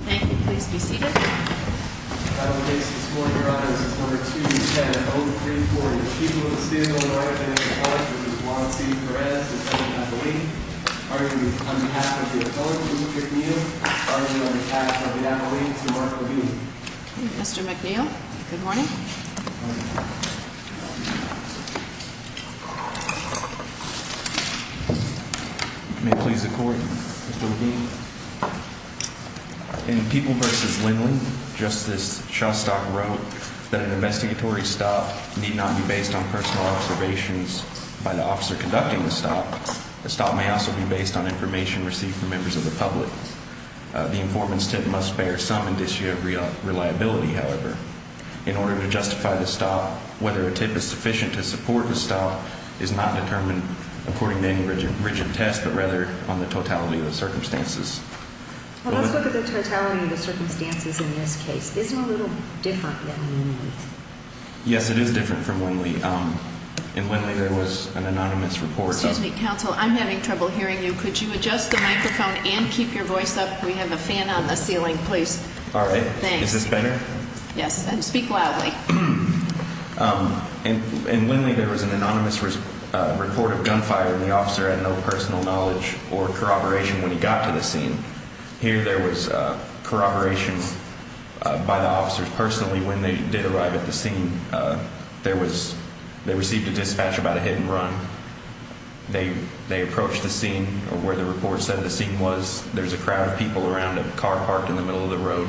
Thank you. Please be seated. Mr McNeil. Good morning. In People v. Lindley, Justice Shostak wrote that an investigatory stop need not be based on personal observations by the officer conducting the stop. The stop may also be based on information received from members of the public. The informant's tip must bear some indicia of reliability, however. In order to justify the stop, whether a tip is sufficient to support the stop is not determined according to any rigid test, but rather on the totality of the circumstances. Let's look at the totality of the circumstances in this case. Isn't it a little different than Lindley? Yes, it is different from Lindley. In Lindley, there was an anonymous report... Excuse me, counsel. I'm having trouble hearing you. Could you adjust the microphone and keep your voice up? We have a fan on the ceiling. Please. All right. Is this better? Yes. And speak loudly. In Lindley, there was an anonymous report of gunfire, and the officer had no personal knowledge or corroboration when he got to the scene. Here, there was corroboration by the officers personally when they did arrive at the scene. They received a dispatch about a hit and run. They approached the scene, or where the report said the scene was. There's a crowd of people around a car parked in the middle of the road.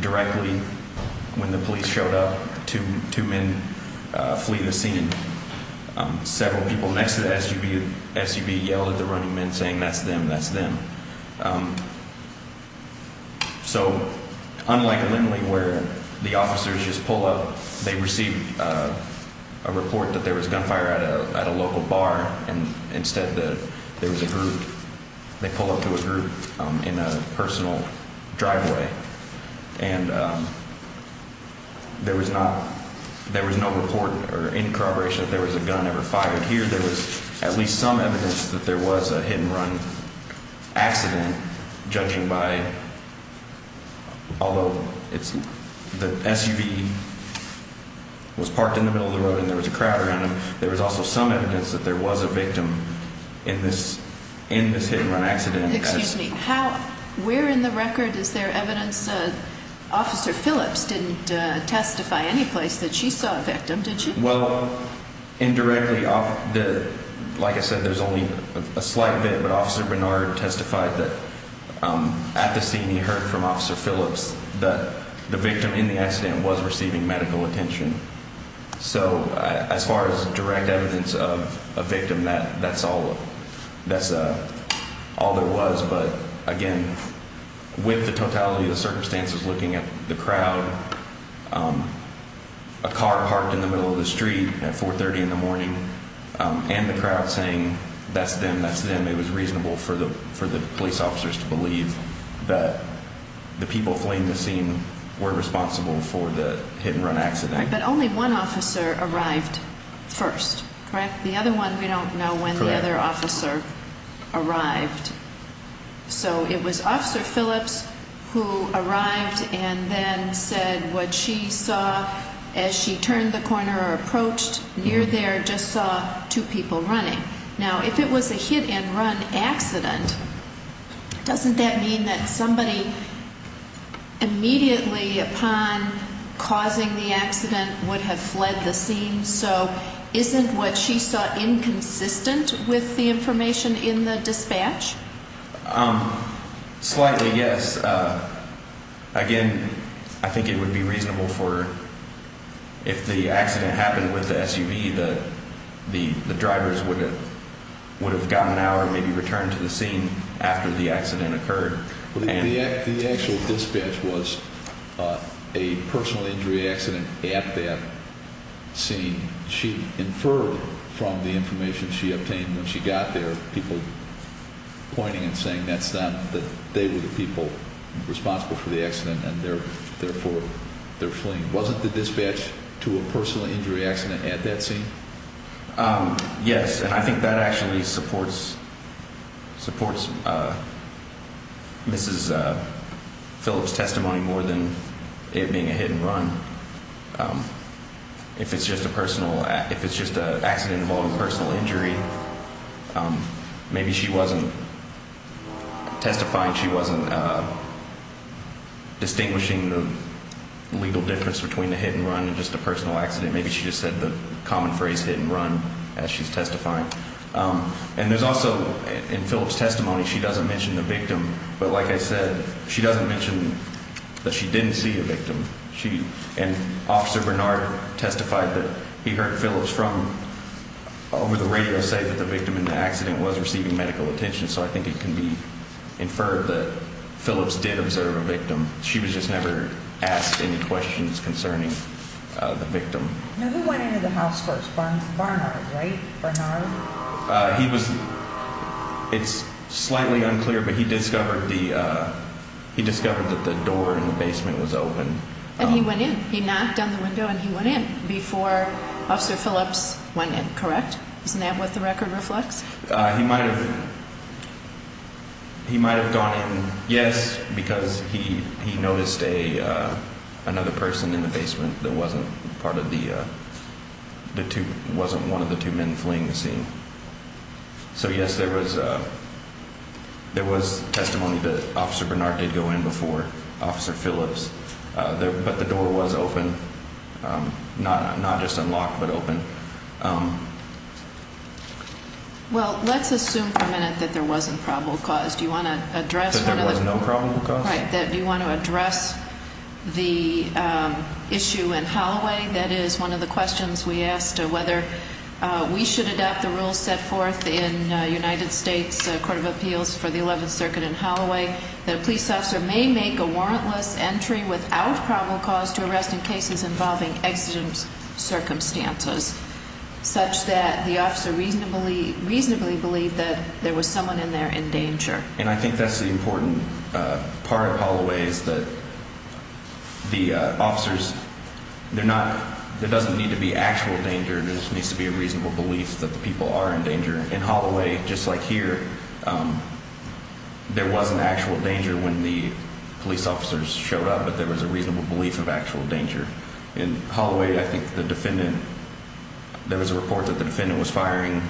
Directly, when the police showed up, two men flee the scene. Several people next to the SUV yelled at the running men, saying, That's them. That's them. Unlike Lindley, where the officers just pull up. They received a report that there was gunfire at a local bar. Instead, they pull up to a group in a personal driveway. There was no report or any corroboration that there was a gun ever fired. Here, there was at least some evidence that there was a hit and run accident, judging by, although the SUV was parked in the middle of the road and there was a crowd around it, there was also some evidence that there was a victim in this hit and run accident. Excuse me. Where in the record is there evidence Officer Phillips didn't testify any place that she saw a victim, did she? Indirectly, like I said, there's only a slight bit, but Officer Bernard testified that at the scene he heard from Officer Phillips that the victim in the accident was receiving medical attention. So as far as direct evidence of a victim, that's all. That's all there was. But again, with the totality of the circumstances, looking at the crowd, a car parked in the middle of the street at 430 in the morning and the crowd saying, That's them. That's them. It was reasonable for the police officers to believe that the people fleeing the scene were responsible for the hit and run accident. But only one officer arrived first, correct? The other one we don't know when the other officer arrived. So it was Officer Phillips who arrived and then said what she saw as she turned the corner or approached near there, just saw two people running. Now, if it was a hit and run accident, doesn't that mean that somebody immediately upon causing the accident would have fled the scene? So isn't what she saw inconsistent with the information in the dispatch? Slightly, yes. Again, I think it would be reasonable for if the accident happened with the SUV, maybe the drivers would have gotten out or maybe returned to the scene after the accident occurred. The actual dispatch was a personal injury accident at that scene. She inferred from the information she obtained when she got there, people pointing and saying that they were the people responsible for the accident and therefore they're fleeing. Wasn't the dispatch to a personal injury accident at that scene? Yes, and I think that actually supports Mrs. Phillips' testimony more than it being a hit and run. If it's just a personal, if it's just an accident involving personal injury, maybe she wasn't testifying, she wasn't distinguishing the legal difference between the hit and run and just a personal accident. Maybe she just said the common phrase hit and run as she's testifying. And there's also, in Phillips' testimony, she doesn't mention the victim. But like I said, she doesn't mention that she didn't see a victim. And Officer Bernard testified that he heard Phillips from over the radio say that the victim in the accident was receiving medical attention. So I think it can be inferred that Phillips did observe a victim. She was just never asked any questions concerning the victim. Now, who went into the house first, Barnard, right, Bernard? He was, it's slightly unclear, but he discovered that the door in the basement was open. And he went in. He knocked on the window and he went in before Officer Phillips went in, correct? Isn't that what the record reflects? He might have gone in, yes, because he noticed another person in the basement that wasn't part of the, wasn't one of the two men fleeing the scene. So, yes, there was testimony that Officer Bernard did go in before Officer Phillips. But the door was open, not just unlocked, but open. Well, let's assume for a minute that there wasn't probable cause. Do you want to address one of those? That there was no probable cause? Right. Do you want to address the issue in Holloway? That is one of the questions we asked, whether we should adopt the rules set forth in United States Court of Appeals for the 11th Circuit in Holloway, that a police officer may make a warrantless entry without probable cause to arrest in cases involving exigent circumstances, such that the officer reasonably believed that there was someone in there in danger. And I think that's the important part of Holloway, is that the officers, they're not, there doesn't need to be actual danger, there just needs to be a reasonable belief that the people are in danger. In Holloway, just like here, there wasn't actual danger when the police officers showed up, but there was a reasonable belief of actual danger. In Holloway, I think the defendant, there was a report that the defendant was firing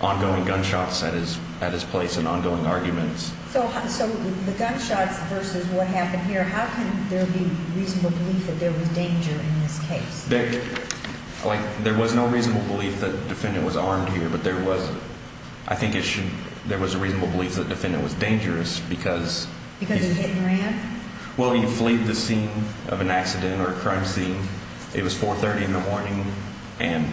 ongoing gunshots at his place and ongoing arguments. So the gunshots versus what happened here, how can there be reasonable belief that there was danger in this case? There was no reasonable belief that the defendant was armed here, but there was, I think there was a reasonable belief that the defendant was dangerous because... Because he hit and ran? Well, he fleed the scene of an accident or a crime scene. It was 4.30 in the morning, and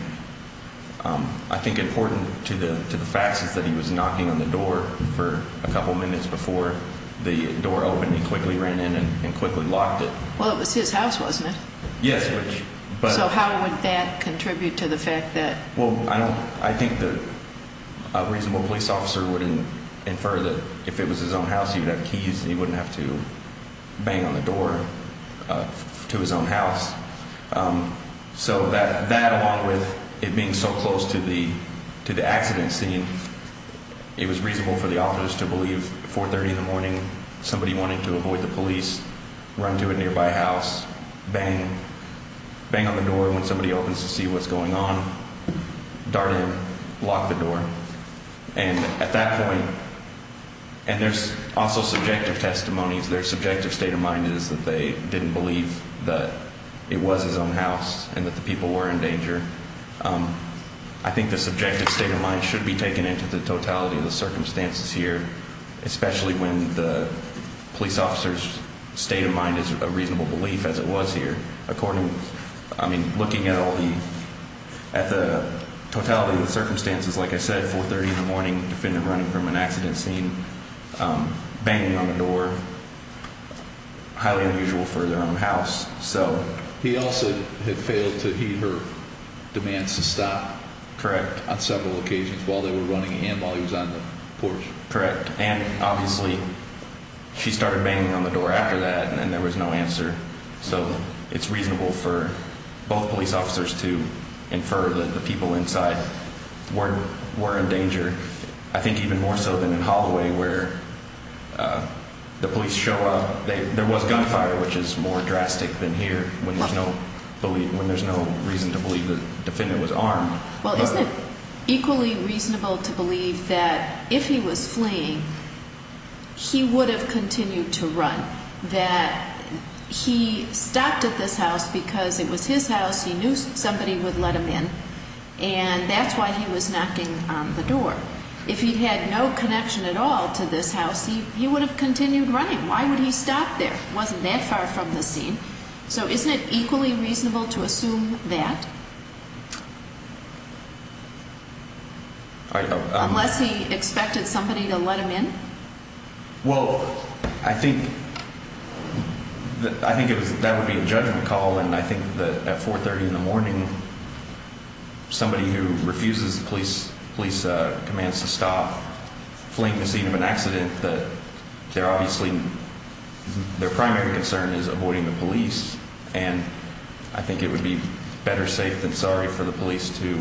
I think important to the facts is that he was knocking on the door for a couple minutes before the door opened. He quickly ran in and quickly locked it. Well, it was his house, wasn't it? Yes. So how would that contribute to the fact that... Well, I think the reasonable police officer would infer that if it was his own house, he would have keys and he wouldn't have to bang on the door to his own house. So that, along with it being so close to the accident scene, it was reasonable for the officers to believe 4.30 in the morning, somebody wanted to avoid the police, run to a nearby house, bang on the door when somebody opens to see what's going on, dart in, lock the door. And at that point... And there's also subjective testimonies. Their subjective state of mind is that they didn't believe that it was his own house and that the people were in danger. I think the subjective state of mind should be taken into the totality of the circumstances here, especially when the police officer's state of mind is a reasonable belief as it was here. I mean, looking at all the... At the totality of the circumstances, like I said, 4.30 in the morning, defendant running from an accident scene, banging on the door, highly unusual for their own house, so... He also had failed to heed her demands to stop... Correct. ...on several occasions while they were running and while he was on the porch. Correct. And, obviously, she started banging on the door after that and there was no answer. So it's reasonable for both police officers to infer that the people inside were in danger. I think even more so than in Holloway where the police show up. There was gunfire, which is more drastic than here when there's no reason to believe the defendant was armed. Well, isn't it equally reasonable to believe that if he was fleeing, he would have continued to run? That he stopped at this house because it was his house, he knew somebody would let him in, and that's why he was knocking on the door. If he had no connection at all to this house, he would have continued running. Why would he stop there? It wasn't that far from the scene. So isn't it equally reasonable to assume that? Unless he expected somebody to let him in? Well, I think that would be a judgment call, and I think that at 4.30 in the morning, somebody who refuses police commands to stop fleeing the scene of an accident, their primary concern is avoiding the police, and I think it would be better safe than sorry for the police to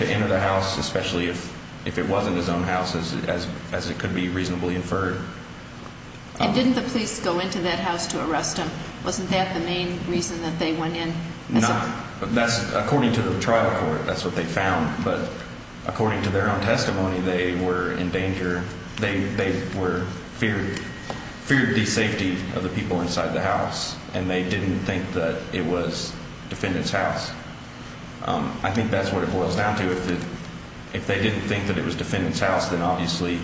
enter the house, especially if it wasn't his own house, as it could be reasonably inferred. And didn't the police go into that house to arrest him? Wasn't that the main reason that they went in? According to the trial court, that's what they found, but according to their own testimony, they were in danger. They feared the safety of the people inside the house, and they didn't think that it was defendant's house. I think that's what it boils down to. If they didn't think that it was defendant's house, then obviously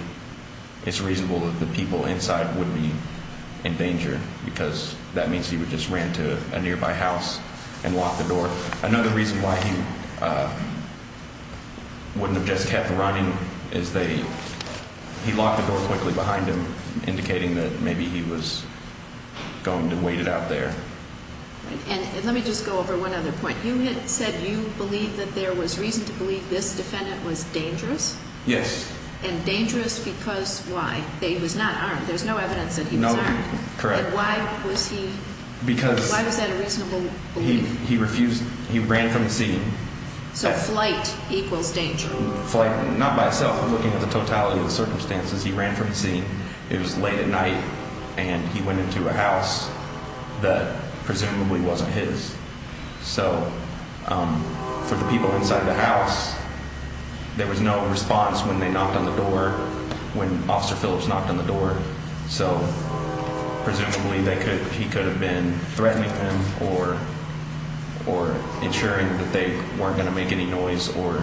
it's reasonable that the people inside would be in danger because that means he would just ran to a nearby house and lock the door. Another reason why he wouldn't have just kept running is he locked the door quickly behind him, indicating that maybe he was going to wait it out there. And let me just go over one other point. You had said you believed that there was reason to believe this defendant was dangerous. Yes. And dangerous because why? He was not armed. There's no evidence that he was armed. Correct. And why was he, why was that a reasonable belief? He refused, he ran from the scene. So flight equals danger. Flight, not by itself, looking at the totality of the circumstances, he ran from the scene. It was late at night, and he went into a house that presumably wasn't his. So for the people inside the house, there was no response when they knocked on the door, when Officer Phillips knocked on the door. So presumably he could have been threatening them or ensuring that they weren't going to make any noise or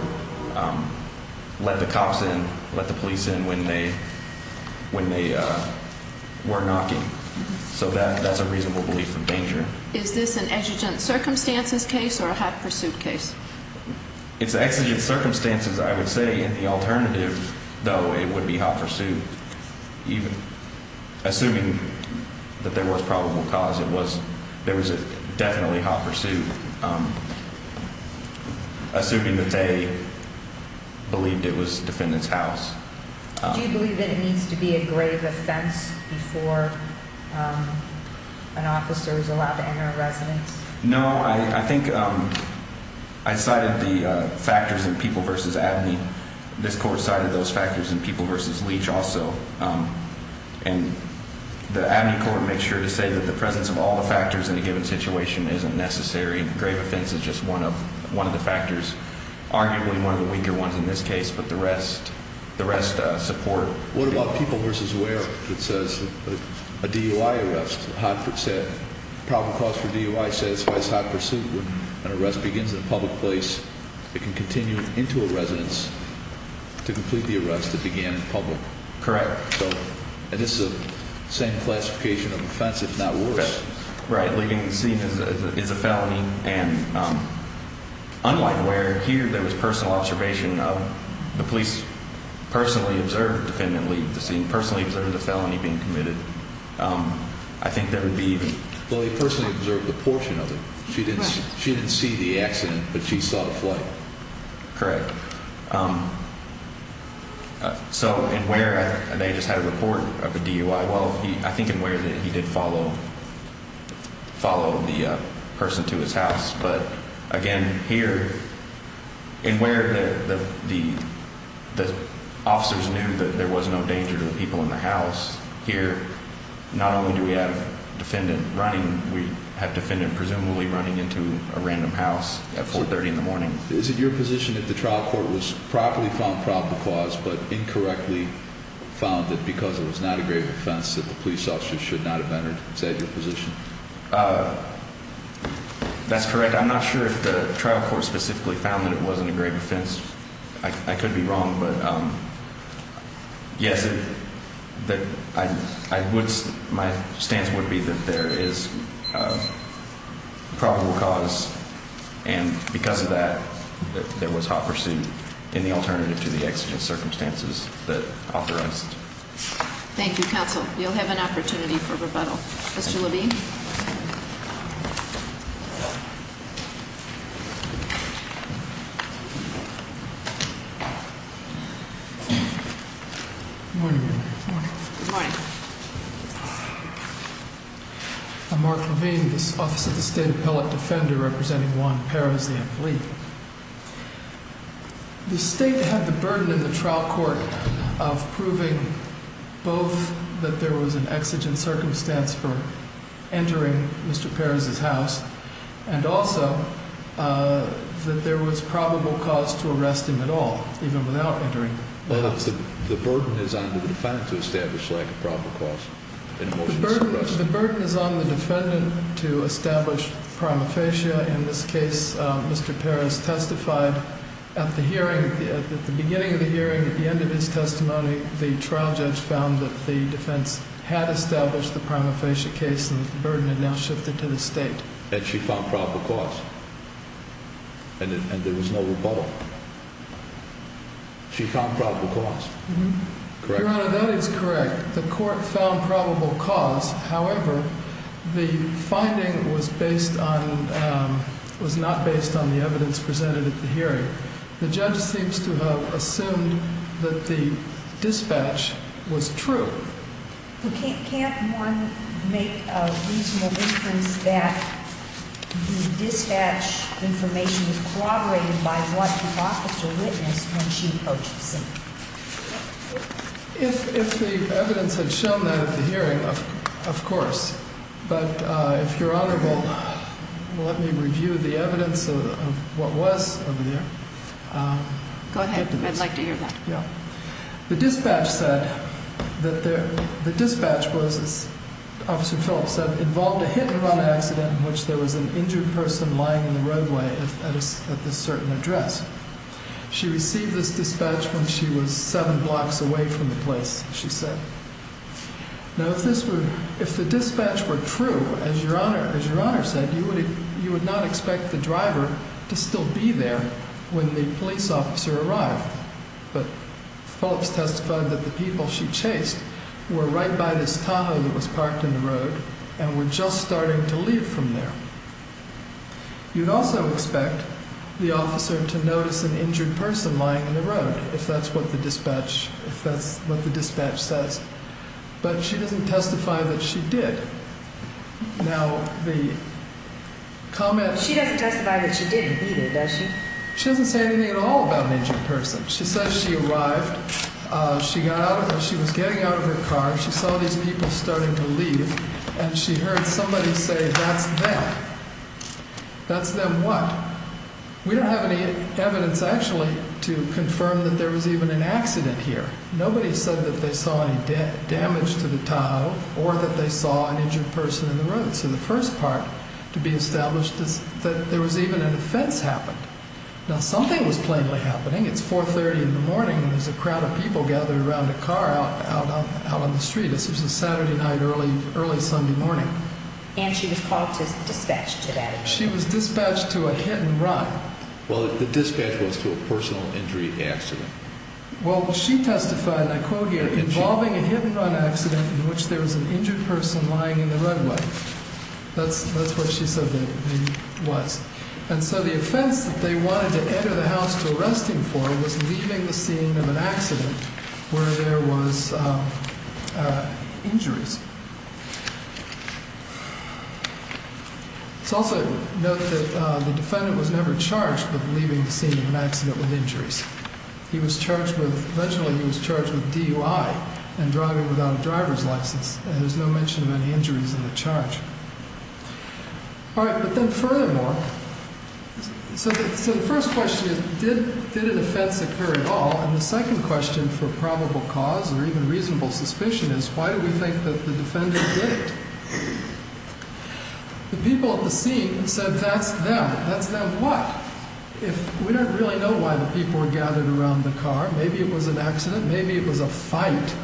let the cops in, let the police in when they were knocking. So that's a reasonable belief in danger. Is this an exigent circumstances case or a hot pursuit case? It's exigent circumstances, I would say. In the alternative, though, it would be hot pursuit. Assuming that there was probable cause, there was definitely hot pursuit. Assuming that they believed it was the defendant's house. Do you believe that it needs to be a grave offense before an officer is allowed to enter a residence? No. I think I cited the factors in People v. Abney. This Court cited those factors in People v. Leach also. And the Abney Court makes sure to say that the presence of all the factors in a given situation isn't necessary. A grave offense is just one of the factors, arguably one of the weaker ones in this case, but the rest support. What about People v. Ware? It says a DUI arrest, a probable cause for DUI satisfies hot pursuit. When an arrest begins in a public place, it can continue into a residence to complete the arrest that began in public. Correct. And this is the same classification of offense, if not worse. Right. Leaving the scene is a felony. And unlike Ware, here there was personal observation of the police personally observing the felony being committed. I think there would be even… Well, they personally observed a portion of it. She didn't see the accident, but she saw the flight. Correct. So in Ware, they just had a report of a DUI. Well, I think in Ware that he did follow the person to his house. But again, here, in Ware, the officers knew that there was no danger to the people in the house. Here, not only do we have a defendant running, we have a defendant presumably running into a random house at 4.30 in the morning. Is it your position that the trial court was properly found probable cause but incorrectly found it because it was not a grave offense that the police officers should not have entered? Is that your position? That's correct. I'm not sure if the trial court specifically found that it wasn't a grave offense. I could be wrong. But, yes, my stance would be that there is probable cause. And because of that, there was hot pursuit in the alternative to the accident circumstances that authorized. Thank you, counsel. You'll have an opportunity for rebuttal. Mr. Levine? Good morning. Good morning. The state had the burden in the trial court of proving both that there was an exigent circumstance for entering Mr. Perez's house and also that there was probable cause to arrest him at all, even without entering the house. The burden is on the defendant to establish lack of probable cause. The burden is on the defendant to establish prima facie. In this case, Mr. Perez testified at the beginning of the hearing, at the end of his testimony, the trial judge found that the defense had established the prima facie case and the burden had now shifted to the state. And she found probable cause. And there was no rebuttal. She found probable cause. Your Honor, that is correct. The court found probable cause. However, the finding was based on, was not based on the evidence presented at the hearing. The judge seems to have assumed that the dispatch was true. Can't one make a reasonable inference that the dispatch information was corroborated by what the officer witnessed when she approached the scene? If the evidence had shown that at the hearing, of course. But if you're honorable, let me review the evidence of what was over there. Go ahead. I'd like to hear that. Yeah. The dispatch said that the dispatch was, as Officer Phillips said, involved a hit and run accident in which there was an injured person lying in the roadway at this certain address. She received this dispatch when she was seven blocks away from the place, she said. Now, if this were, if the dispatch were true, as Your Honor, as Your Honor said, you would, you would not expect the driver to still be there when the police officer arrived. But Phillips testified that the people she chased were right by this tunnel that was parked in the road and were just starting to leave from there. You'd also expect the officer to notice an injured person lying in the road, if that's what the dispatch, if that's what the dispatch says. But she doesn't testify that she did. Now, the comment. She doesn't testify that she didn't, either, does she? She doesn't say anything at all about an injured person. She says she arrived, she got out of her, she was getting out of her car, she saw these people starting to leave, and she heard somebody say, that's them. That's them what? We don't have any evidence, actually, to confirm that there was even an accident here. Nobody said that they saw any damage to the tunnel or that they saw an injured person in the road. So the first part to be established is that there was even an offense happened. Now, something was plainly happening. It's 430 in the morning, and there's a crowd of people gathered around a car out on the street. This was a Saturday night, early Sunday morning. And she was called to dispatch to that event. She was dispatched to a hit and run. Well, the dispatch was to a personal injury accident. Well, she testified, and I quote here, involving a hit and run accident in which there was an injured person lying in the runway. That's what she said it was. And so the offense that they wanted to enter the house to arrest him for was leaving the scene of an accident where there was injuries. Let's also note that the defendant was never charged with leaving the scene of an accident with injuries. He was charged with, eventually he was charged with DUI and driving without a driver's license. And there's no mention of any injuries in the charge. All right, but then furthermore, so the first question is did an offense occur at all? And the second question for probable cause or even reasonable suspicion is why do we think that the defendant did it? The people at the scene said that's them. That's them what? If we don't really know why the people were gathered around the car, maybe it was an accident, maybe it was a fight.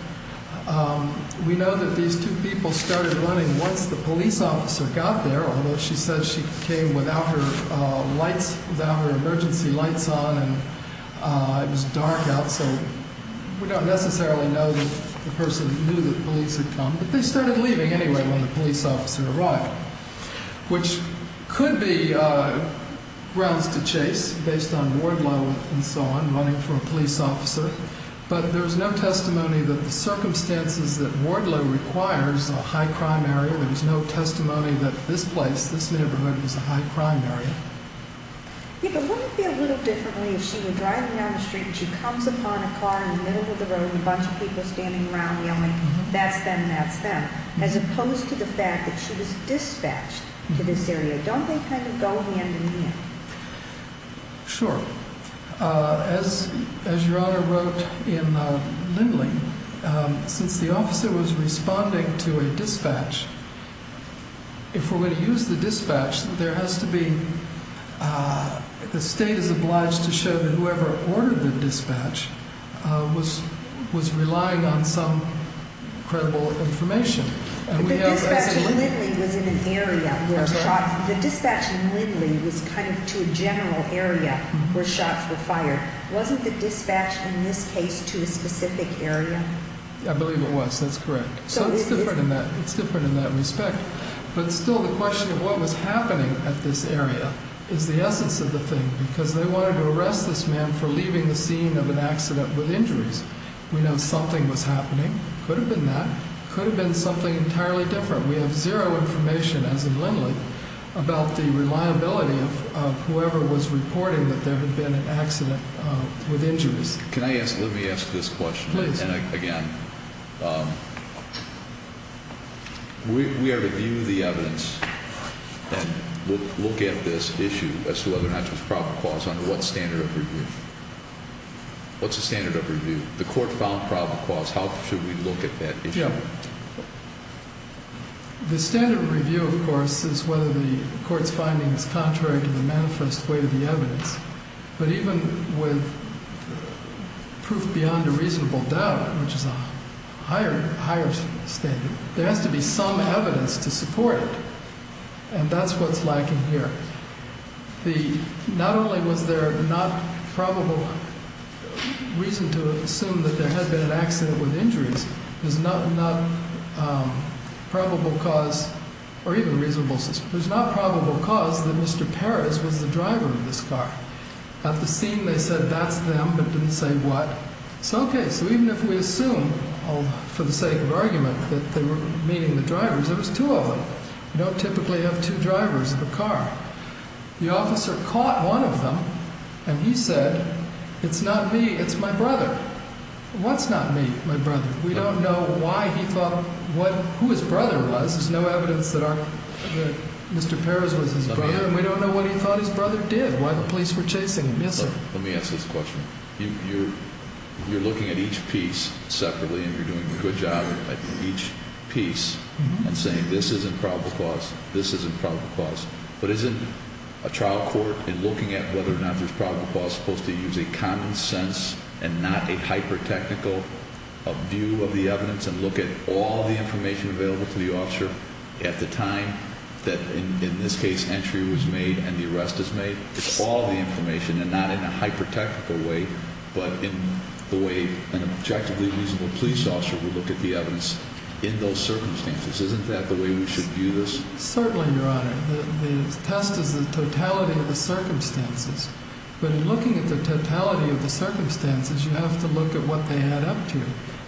We know that these two people started running once the police officer got there, although she said she came without her lights, without her emergency lights on. And it was dark out, so we don't necessarily know that the person knew the police had come. But they started leaving anyway when the police officer arrived, which could be grounds to chase based on ward level and so on, running for a police officer. But there's no testimony that the circumstances that Wardlow requires a high crime area. There's no testimony that this place, this neighborhood is a high crime area. Yeah, but wouldn't it be a little differently if she were driving down the street and she comes upon a car in the middle of the road and a bunch of people standing around yelling, that's them, that's them. As opposed to the fact that she was dispatched to this area. Don't they kind of go hand in hand? Sure. As your Honor wrote in Lindley, since the officer was responding to a dispatch, if we're going to use the dispatch, there has to be, the state is obliged to show that whoever ordered the dispatch was relying on some credible information. The dispatch in Lindley was in an area where, the dispatch in Lindley was kind of to a general area where shots were fired. Wasn't the dispatch in this case to a specific area? I believe it was, that's correct. So it's different in that respect. But still the question of what was happening at this area is the essence of the thing, because they wanted to arrest this man for leaving the scene of an accident with injuries. We know something was happening. Could have been that. Could have been something entirely different. We have zero information, as in Lindley, about the reliability of whoever was reporting that there had been an accident with injuries. Can I ask, let me ask this question. Please. And again, we are reviewing the evidence and look at this issue as to whether or not there's probable cause under what standard of review? What's the standard of review? The court found probable cause. How should we look at that issue? The standard of review, of course, is whether the court's finding is contrary to the manifest way of the evidence. But even with proof beyond a reasonable doubt, which is a higher standard, there has to be some evidence to support it. And that's what's lacking here. Not only was there not probable reason to assume that there had been an accident with injuries, there's not probable cause, or even reasonable. There's not probable cause that Mr. Perez was the driver of this car. At the scene they said that's them, but didn't say what. So, okay, so even if we assume, for the sake of argument, that they were meeting the drivers, there was two of them. You don't typically have two drivers in a car. The officer caught one of them, and he said, it's not me, it's my brother. What's not me? My brother. We don't know why he thought who his brother was. There's no evidence that Mr. Perez was his brother, and we don't know what he thought his brother did, why the police were chasing him. Yes, sir. Let me ask this question. You're looking at each piece separately, and you're doing a good job at each piece and saying this isn't probable cause, this isn't probable cause. But isn't a trial court, in looking at whether or not there's probable cause, supposed to use a common sense and not a hyper-technical view of the evidence and look at all the information available to the officer at the time that, in this case, entry was made and the arrest was made? It's all the information, and not in a hyper-technical way, but in the way an objectively reasonable police officer would look at the evidence in those circumstances. Isn't that the way we should view this? Certainly, Your Honor. The test is the totality of the circumstances. But in looking at the totality of the circumstances, you have to look at what they add up to.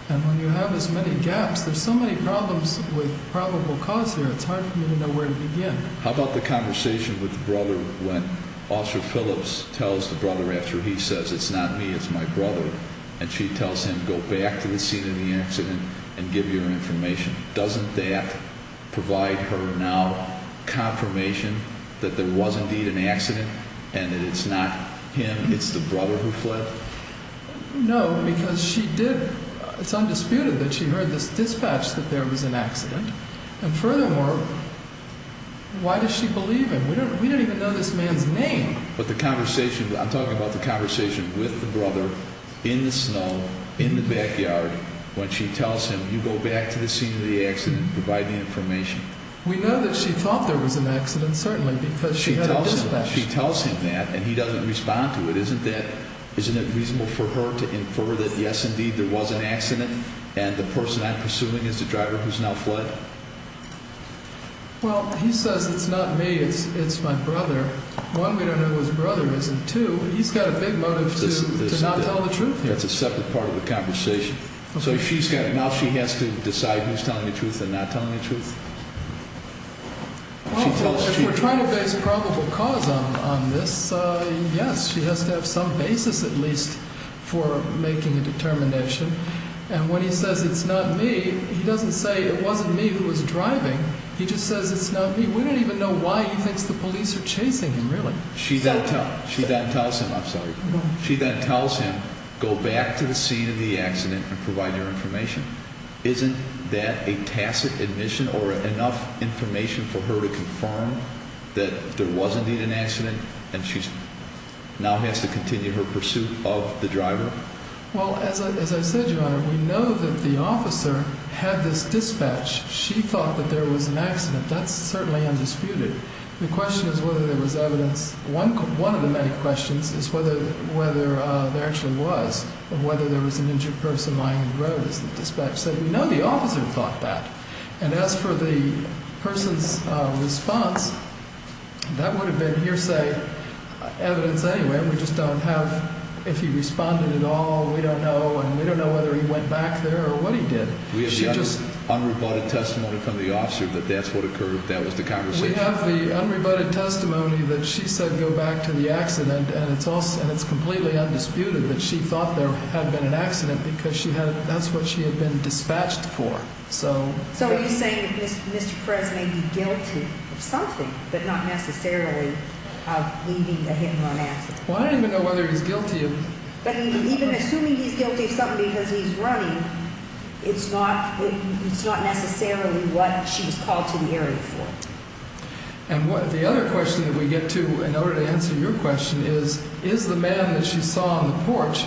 And when you have as many gaps, there's so many problems with probable cause here, it's hard for me to know where to begin. How about the conversation with the brother when Officer Phillips tells the brother after he says, it's not me, it's my brother, and she tells him, go back to the scene of the accident and give your information. Doesn't that provide her now confirmation that there was indeed an accident and that it's not him, it's the brother who fled? No, because she did, it's undisputed that she heard this dispatch that there was an accident. And furthermore, why does she believe him? We don't even know this man's name. But the conversation, I'm talking about the conversation with the brother in the snow, in the backyard, when she tells him, you go back to the scene of the accident and provide the information. We know that she thought there was an accident, certainly, because she had a dispatch. She tells him that, and he doesn't respond to it. Isn't it reasonable for her to infer that, yes, indeed, there was an accident and the person I'm pursuing is the driver who's now fled? Well, he says, it's not me, it's my brother. One, we don't know who his brother is, and two, he's got a big motive to not tell the truth here. That's a separate part of the conversation. So now she has to decide who's telling the truth and not telling the truth? Well, if we're trying to base probable cause on this, yes. She has to have some basis, at least, for making a determination. And when he says, it's not me, he doesn't say, it wasn't me who was driving. He just says, it's not me. We don't even know why he thinks the police are chasing him, really. She then tells him, I'm sorry. She then tells him, go back to the scene of the accident and provide your information. Isn't that a tacit admission or enough information for her to confirm that there was indeed an accident and she now has to continue her pursuit of the driver? Well, as I said, Your Honor, we know that the officer had this dispatch. She thought that there was an accident. That's certainly undisputed. The question is whether there was evidence. One of the many questions is whether there actually was and whether there was an injured person lying in the road as the dispatch said. We know the officer thought that. And as for the person's response, that would have been hearsay evidence anyway. We just don't have if he responded at all. We don't know. And we don't know whether he went back there or what he did. We have the unrebutted testimony from the officer that that's what occurred, that was the conversation. And we have the unrebutted testimony that she said go back to the accident and it's completely undisputed that she thought there had been an accident because that's what she had been dispatched for. So are you saying that Mr. Perez may be guilty of something but not necessarily of leaving a hit-and-run accident? Well, I don't even know whether he's guilty. But even assuming he's guilty of something because he's running, it's not necessarily what she was called to the area for. And the other question that we get to in order to answer your question is, is the man that she saw on the porch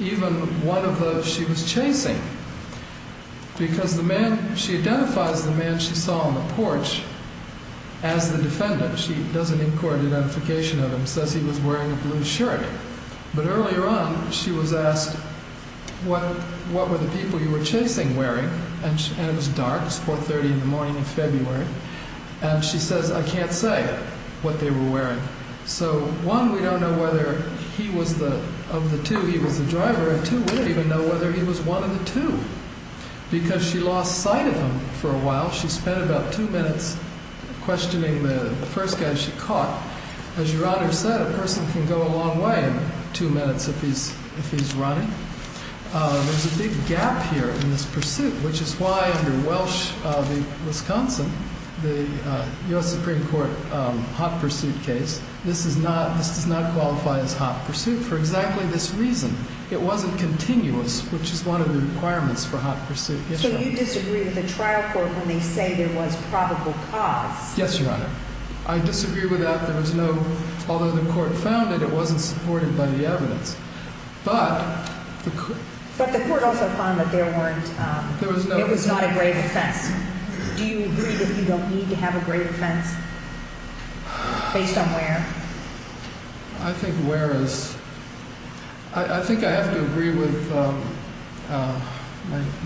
even one of those she was chasing? Because she identifies the man she saw on the porch as the defendant. She doesn't inquire identification of him, says he was wearing a blue shirt. But earlier on she was asked, what were the people you were chasing wearing? And it was dark, it was 4.30 in the morning in February. And she says, I can't say what they were wearing. So one, we don't know whether of the two he was the driver, and two, we don't even know whether he was one of the two. Because she lost sight of him for a while. She spent about two minutes questioning the first guy she caught. As Your Honor said, a person can go a long way in two minutes if he's running. There's a big gap here in this pursuit, which is why under Welsh v. Wisconsin, the U.S. Supreme Court hot pursuit case, this does not qualify as hot pursuit for exactly this reason. It wasn't continuous, which is one of the requirements for hot pursuit. So you disagree with the trial court when they say there was probable cause? Yes, Your Honor. I disagree with that. There was no, although the court found it, it wasn't supported by the evidence. But the court also found that there weren't, it was not a grave offense. Do you agree that you don't need to have a grave offense based on where? I think where is, I think I have to agree with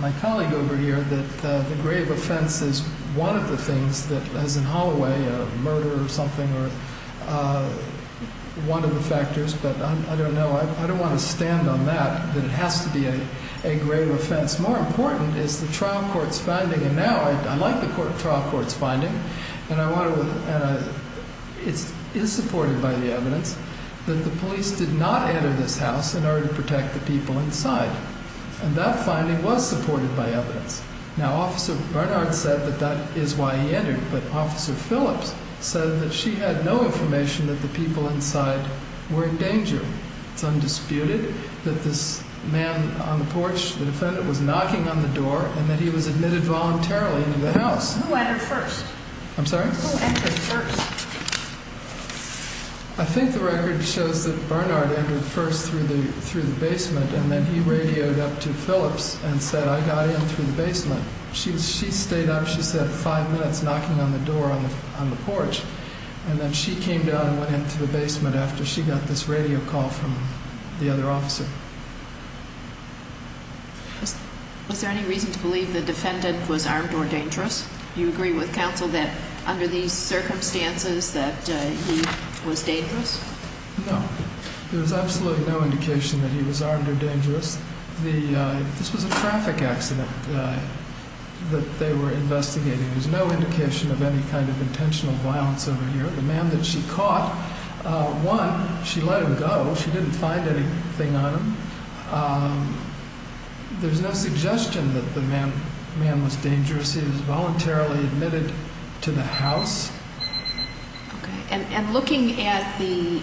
my colleague over here that the grave offense is one of the things that, as in Holloway, a murder or something, or one of the factors, but I don't know. I don't want to stand on that, that it has to be a grave offense. More important is the trial court's finding, and now I like the trial court's finding, and I want to, and it is supported by the evidence, that the police did not enter this house in order to protect the people inside. And that finding was supported by evidence. Now, Officer Barnard said that that is why he entered, but Officer Phillips said that she had no information that the people inside were in danger. It's undisputed that this man on the porch, the defendant, was knocking on the door and that he was admitted voluntarily into the house. Who entered first? I'm sorry? Who entered first? I think the record shows that Barnard entered first through the basement and then he radioed up to Phillips and said, I got in through the basement. She stayed up, she said, five minutes knocking on the door on the porch, and then she came down and went into the basement after she got this radio call from the other officer. Was there any reason to believe the defendant was armed or dangerous? Do you agree with counsel that under these circumstances that he was dangerous? No. There's absolutely no indication that he was armed or dangerous. This was a traffic accident that they were investigating. There's no indication of any kind of intentional violence over here. The man that she caught, one, she let him go. She didn't find anything on him. There's no suggestion that the man was dangerous. He was voluntarily admitted to the house. Okay. And looking at the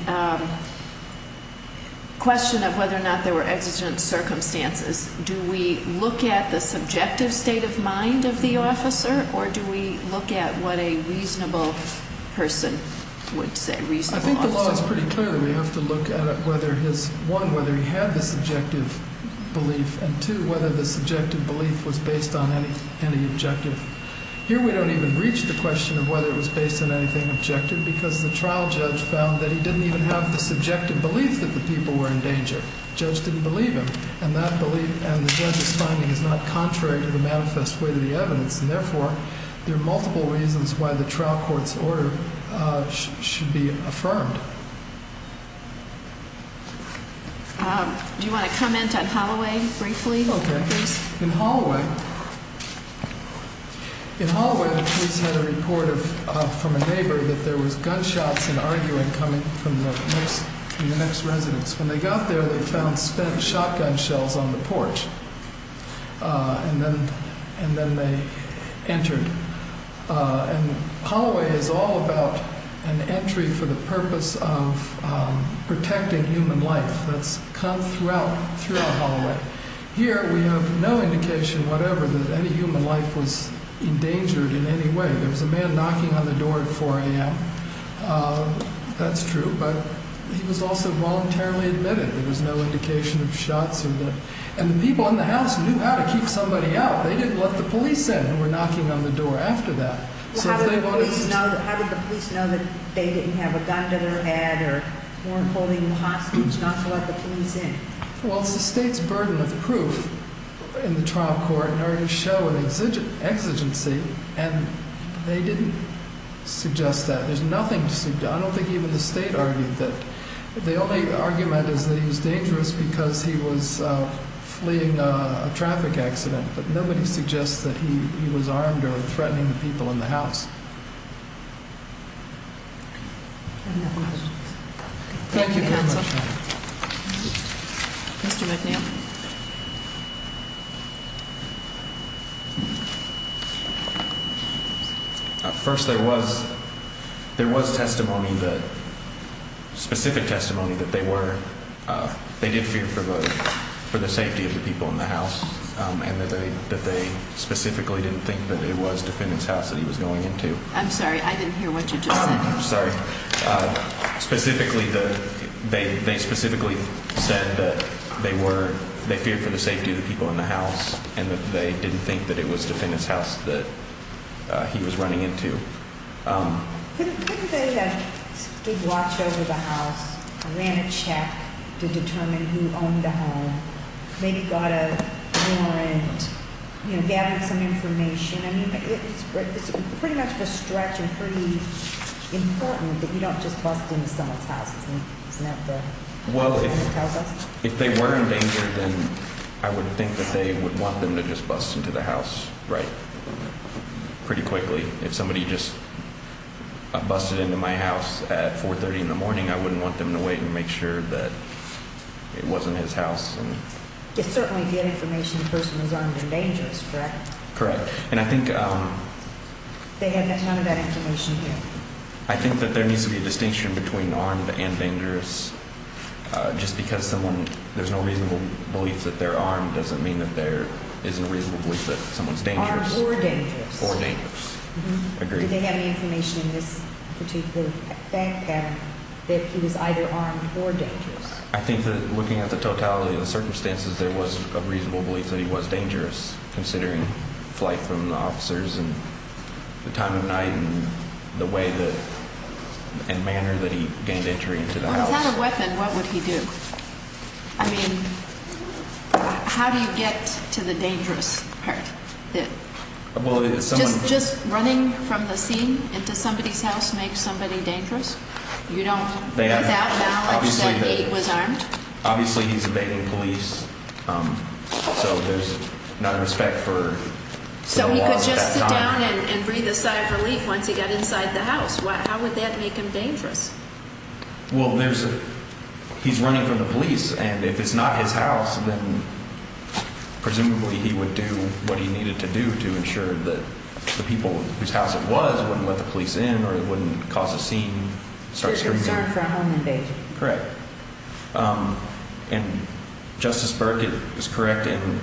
question of whether or not there were exigent circumstances, do we look at the subjective state of mind of the officer or do we look at what a reasonable person would say, reasonable officer? I think the law is pretty clear that we have to look at whether his, one, whether he had the subjective belief and, two, whether the subjective belief was based on any objective. Here we don't even reach the question of whether it was based on anything objective because the trial judge found that he didn't even have the subjective belief that the people were in danger. The judge didn't believe him, and the judge's finding is not contrary to the manifest way of the evidence, and therefore there are multiple reasons why the trial court's order should be affirmed. Do you want to comment on Holloway briefly? Okay. In Holloway, the police had a report from a neighbor that there was gunshots and arguing coming from the next residence. When they got there, they found spent shotgun shells on the porch, and then they entered. And Holloway is all about an entry for the purpose of protecting human life. That's come throughout Holloway. Here we have no indication whatever that any human life was endangered in any way. There was a man knocking on the door at 4 a.m. That's true, but he was also voluntarily admitted. There was no indication of shots. And the people in the house knew how to keep somebody out. They didn't let the police in who were knocking on the door after that. How did the police know that they didn't have a gun to their head or weren't holding them hostage not to let the police in? Well, it's the state's burden of proof in the trial court in order to show an exigency, and they didn't suggest that. There's nothing to suggest. I don't think even the state argued that. The only argument is that he was dangerous because he was fleeing a traffic accident, but nobody suggests that he was armed or threatening the people in the house. Any other questions? Thank you, counsel. Mr. McNeil. First, there was testimony, specific testimony that they did fear for the safety of the people in the house and that they specifically didn't think that it was defendant's house that he was going into. I'm sorry, I didn't hear what you just said. I'm sorry. Specifically, they specifically said that they feared for the safety of the people in the house and that they didn't think that it was defendant's house that he was running into. Couldn't they have watched over the house, ran a check to determine who owned the home, maybe got a warrant, gathered some information? I mean, it's pretty much a stretch and pretty important that you don't just bust into someone's house. Isn't that what you're trying to tell us? Well, if they were in danger, then I would think that they would want them to just bust into the house pretty quickly. If somebody just busted into my house at 430 in the morning, I wouldn't want them to wait and make sure that it wasn't his house. It's certainly good information the person was armed and dangerous, correct? Correct. And I think they had a ton of that information here. I think that there needs to be a distinction between armed and dangerous. Just because there's no reasonable belief that they're armed doesn't mean that there isn't a reasonable belief that someone's dangerous. Armed or dangerous. Or dangerous, agreed. Did they have any information in this particular fact pattern that he was either armed or dangerous? I think that looking at the totality of the circumstances, there was a reasonable belief that he was dangerous, considering flight from the officers and the time of night and the way and manner that he gained entry into the house. Without a weapon, what would he do? I mean, how do you get to the dangerous part? Just running from the scene into somebody's house makes somebody dangerous? Without knowledge that he was armed? Obviously, he's evading police, so there's not respect for the law at that time. So he could just sit down and breathe a sigh of relief once he got inside the house. How would that make him dangerous? Well, he's running from the police, and if it's not his house, then presumably he would do what he needed to do to ensure that the people whose house it was wouldn't let the police in or it wouldn't cause a scene. So he was armed for a home invasion? Correct. And Justice Berkett is correct, and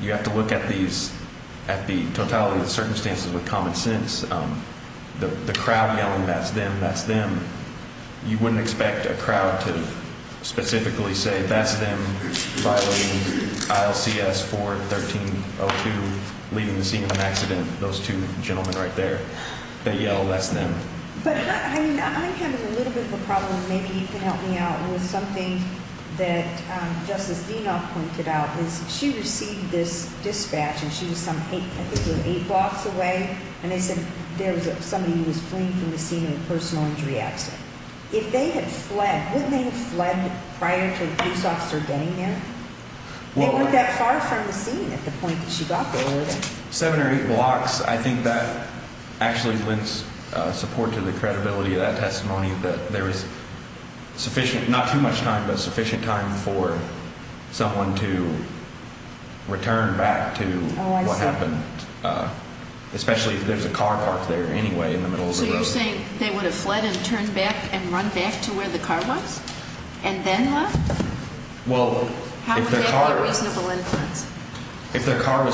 you have to look at the totality of the circumstances with common sense. The crowd yelling, that's them, that's them, you wouldn't expect a crowd to specifically say, that's them, violating ILCS 4-1302, leaving the scene of an accident. Those two gentlemen right there, they yell, that's them. But I'm having a little bit of a problem. Maybe you can help me out with something that Justice Denoff pointed out. She received this dispatch, and she was some eight blocks away, and they said there was somebody who was fleeing from the scene of a personal injury accident. If they had fled, wouldn't they have fled prior to a police officer getting there? They weren't that far from the scene at the point that she got there, were they? Seven or eight blocks, I think that actually lends support to the credibility of that testimony, that there was sufficient, not too much time, but sufficient time for someone to return back to what happened, especially if there's a car parked there anyway in the middle of the road. So you're saying they would have fled and turned back and run back to where the car was and then left? Well, if their car was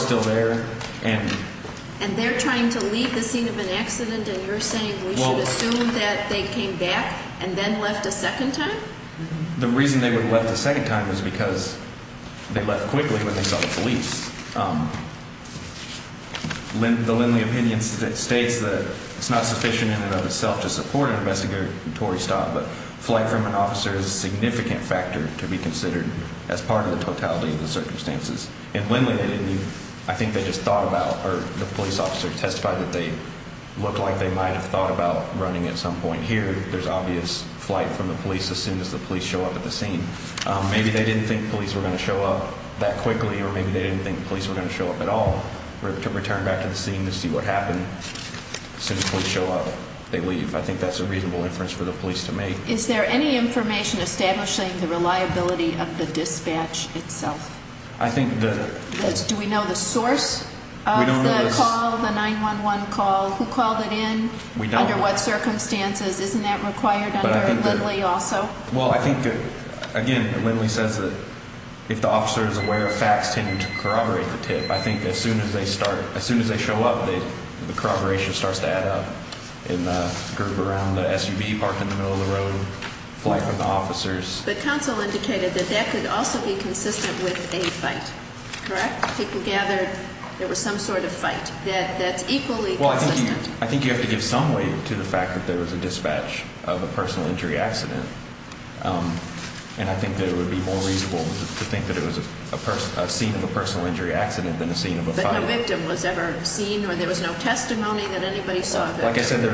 still there, And they're trying to leave the scene of an accident, and you're saying we should assume that they came back and then left a second time? The reason they would have left a second time is because they left quickly when they saw the police. The Lindley opinion states that it's not sufficient in and of itself to support an investigatory stop, but flight from an officer is a significant factor to be considered as part of the totality of the circumstances. In Lindley, I think they just thought about, or the police officer testified that they looked like they might have thought about running at some point. Here, there's obvious flight from the police as soon as the police show up at the scene. Maybe they didn't think police were going to show up that quickly, or maybe they didn't think police were going to show up at all to return back to the scene to see what happened. As soon as the police show up, they leave. I think that's a reasonable inference for the police to make. Is there any information establishing the reliability of the dispatch itself? Do we know the source of the call, the 911 call? Who called it in? Under what circumstances? Isn't that required under Lindley also? Well, I think, again, Lindley says that if the officer is aware of facts, they need to corroborate the tip. I think as soon as they show up, the corroboration starts to add up in the group around the SUV parked in the middle of the road, flight from the officers. But counsel indicated that that could also be consistent with a fight, correct? People gathered there was some sort of fight. That's equally consistent. Well, I think you have to give some weight to the fact that there was a dispatch of a personal injury accident, and I think that it would be more reasonable to think that it was a scene of a personal injury accident than a scene of a fight. But no victim was ever seen, or there was no testimony that anybody saw that? Again, there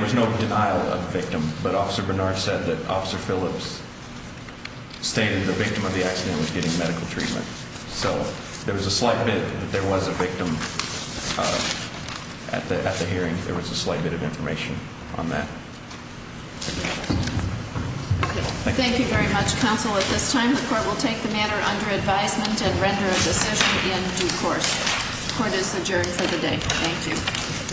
was no denial of victim, but Officer Bernard said that Officer Phillips stated the victim of the accident was getting medical treatment. So there was a slight bit that there was a victim at the hearing. There was a slight bit of information on that. Thank you very much, counsel. At this time, the court will take the matter under advisement and render a decision in due course. Court is adjourned for the day.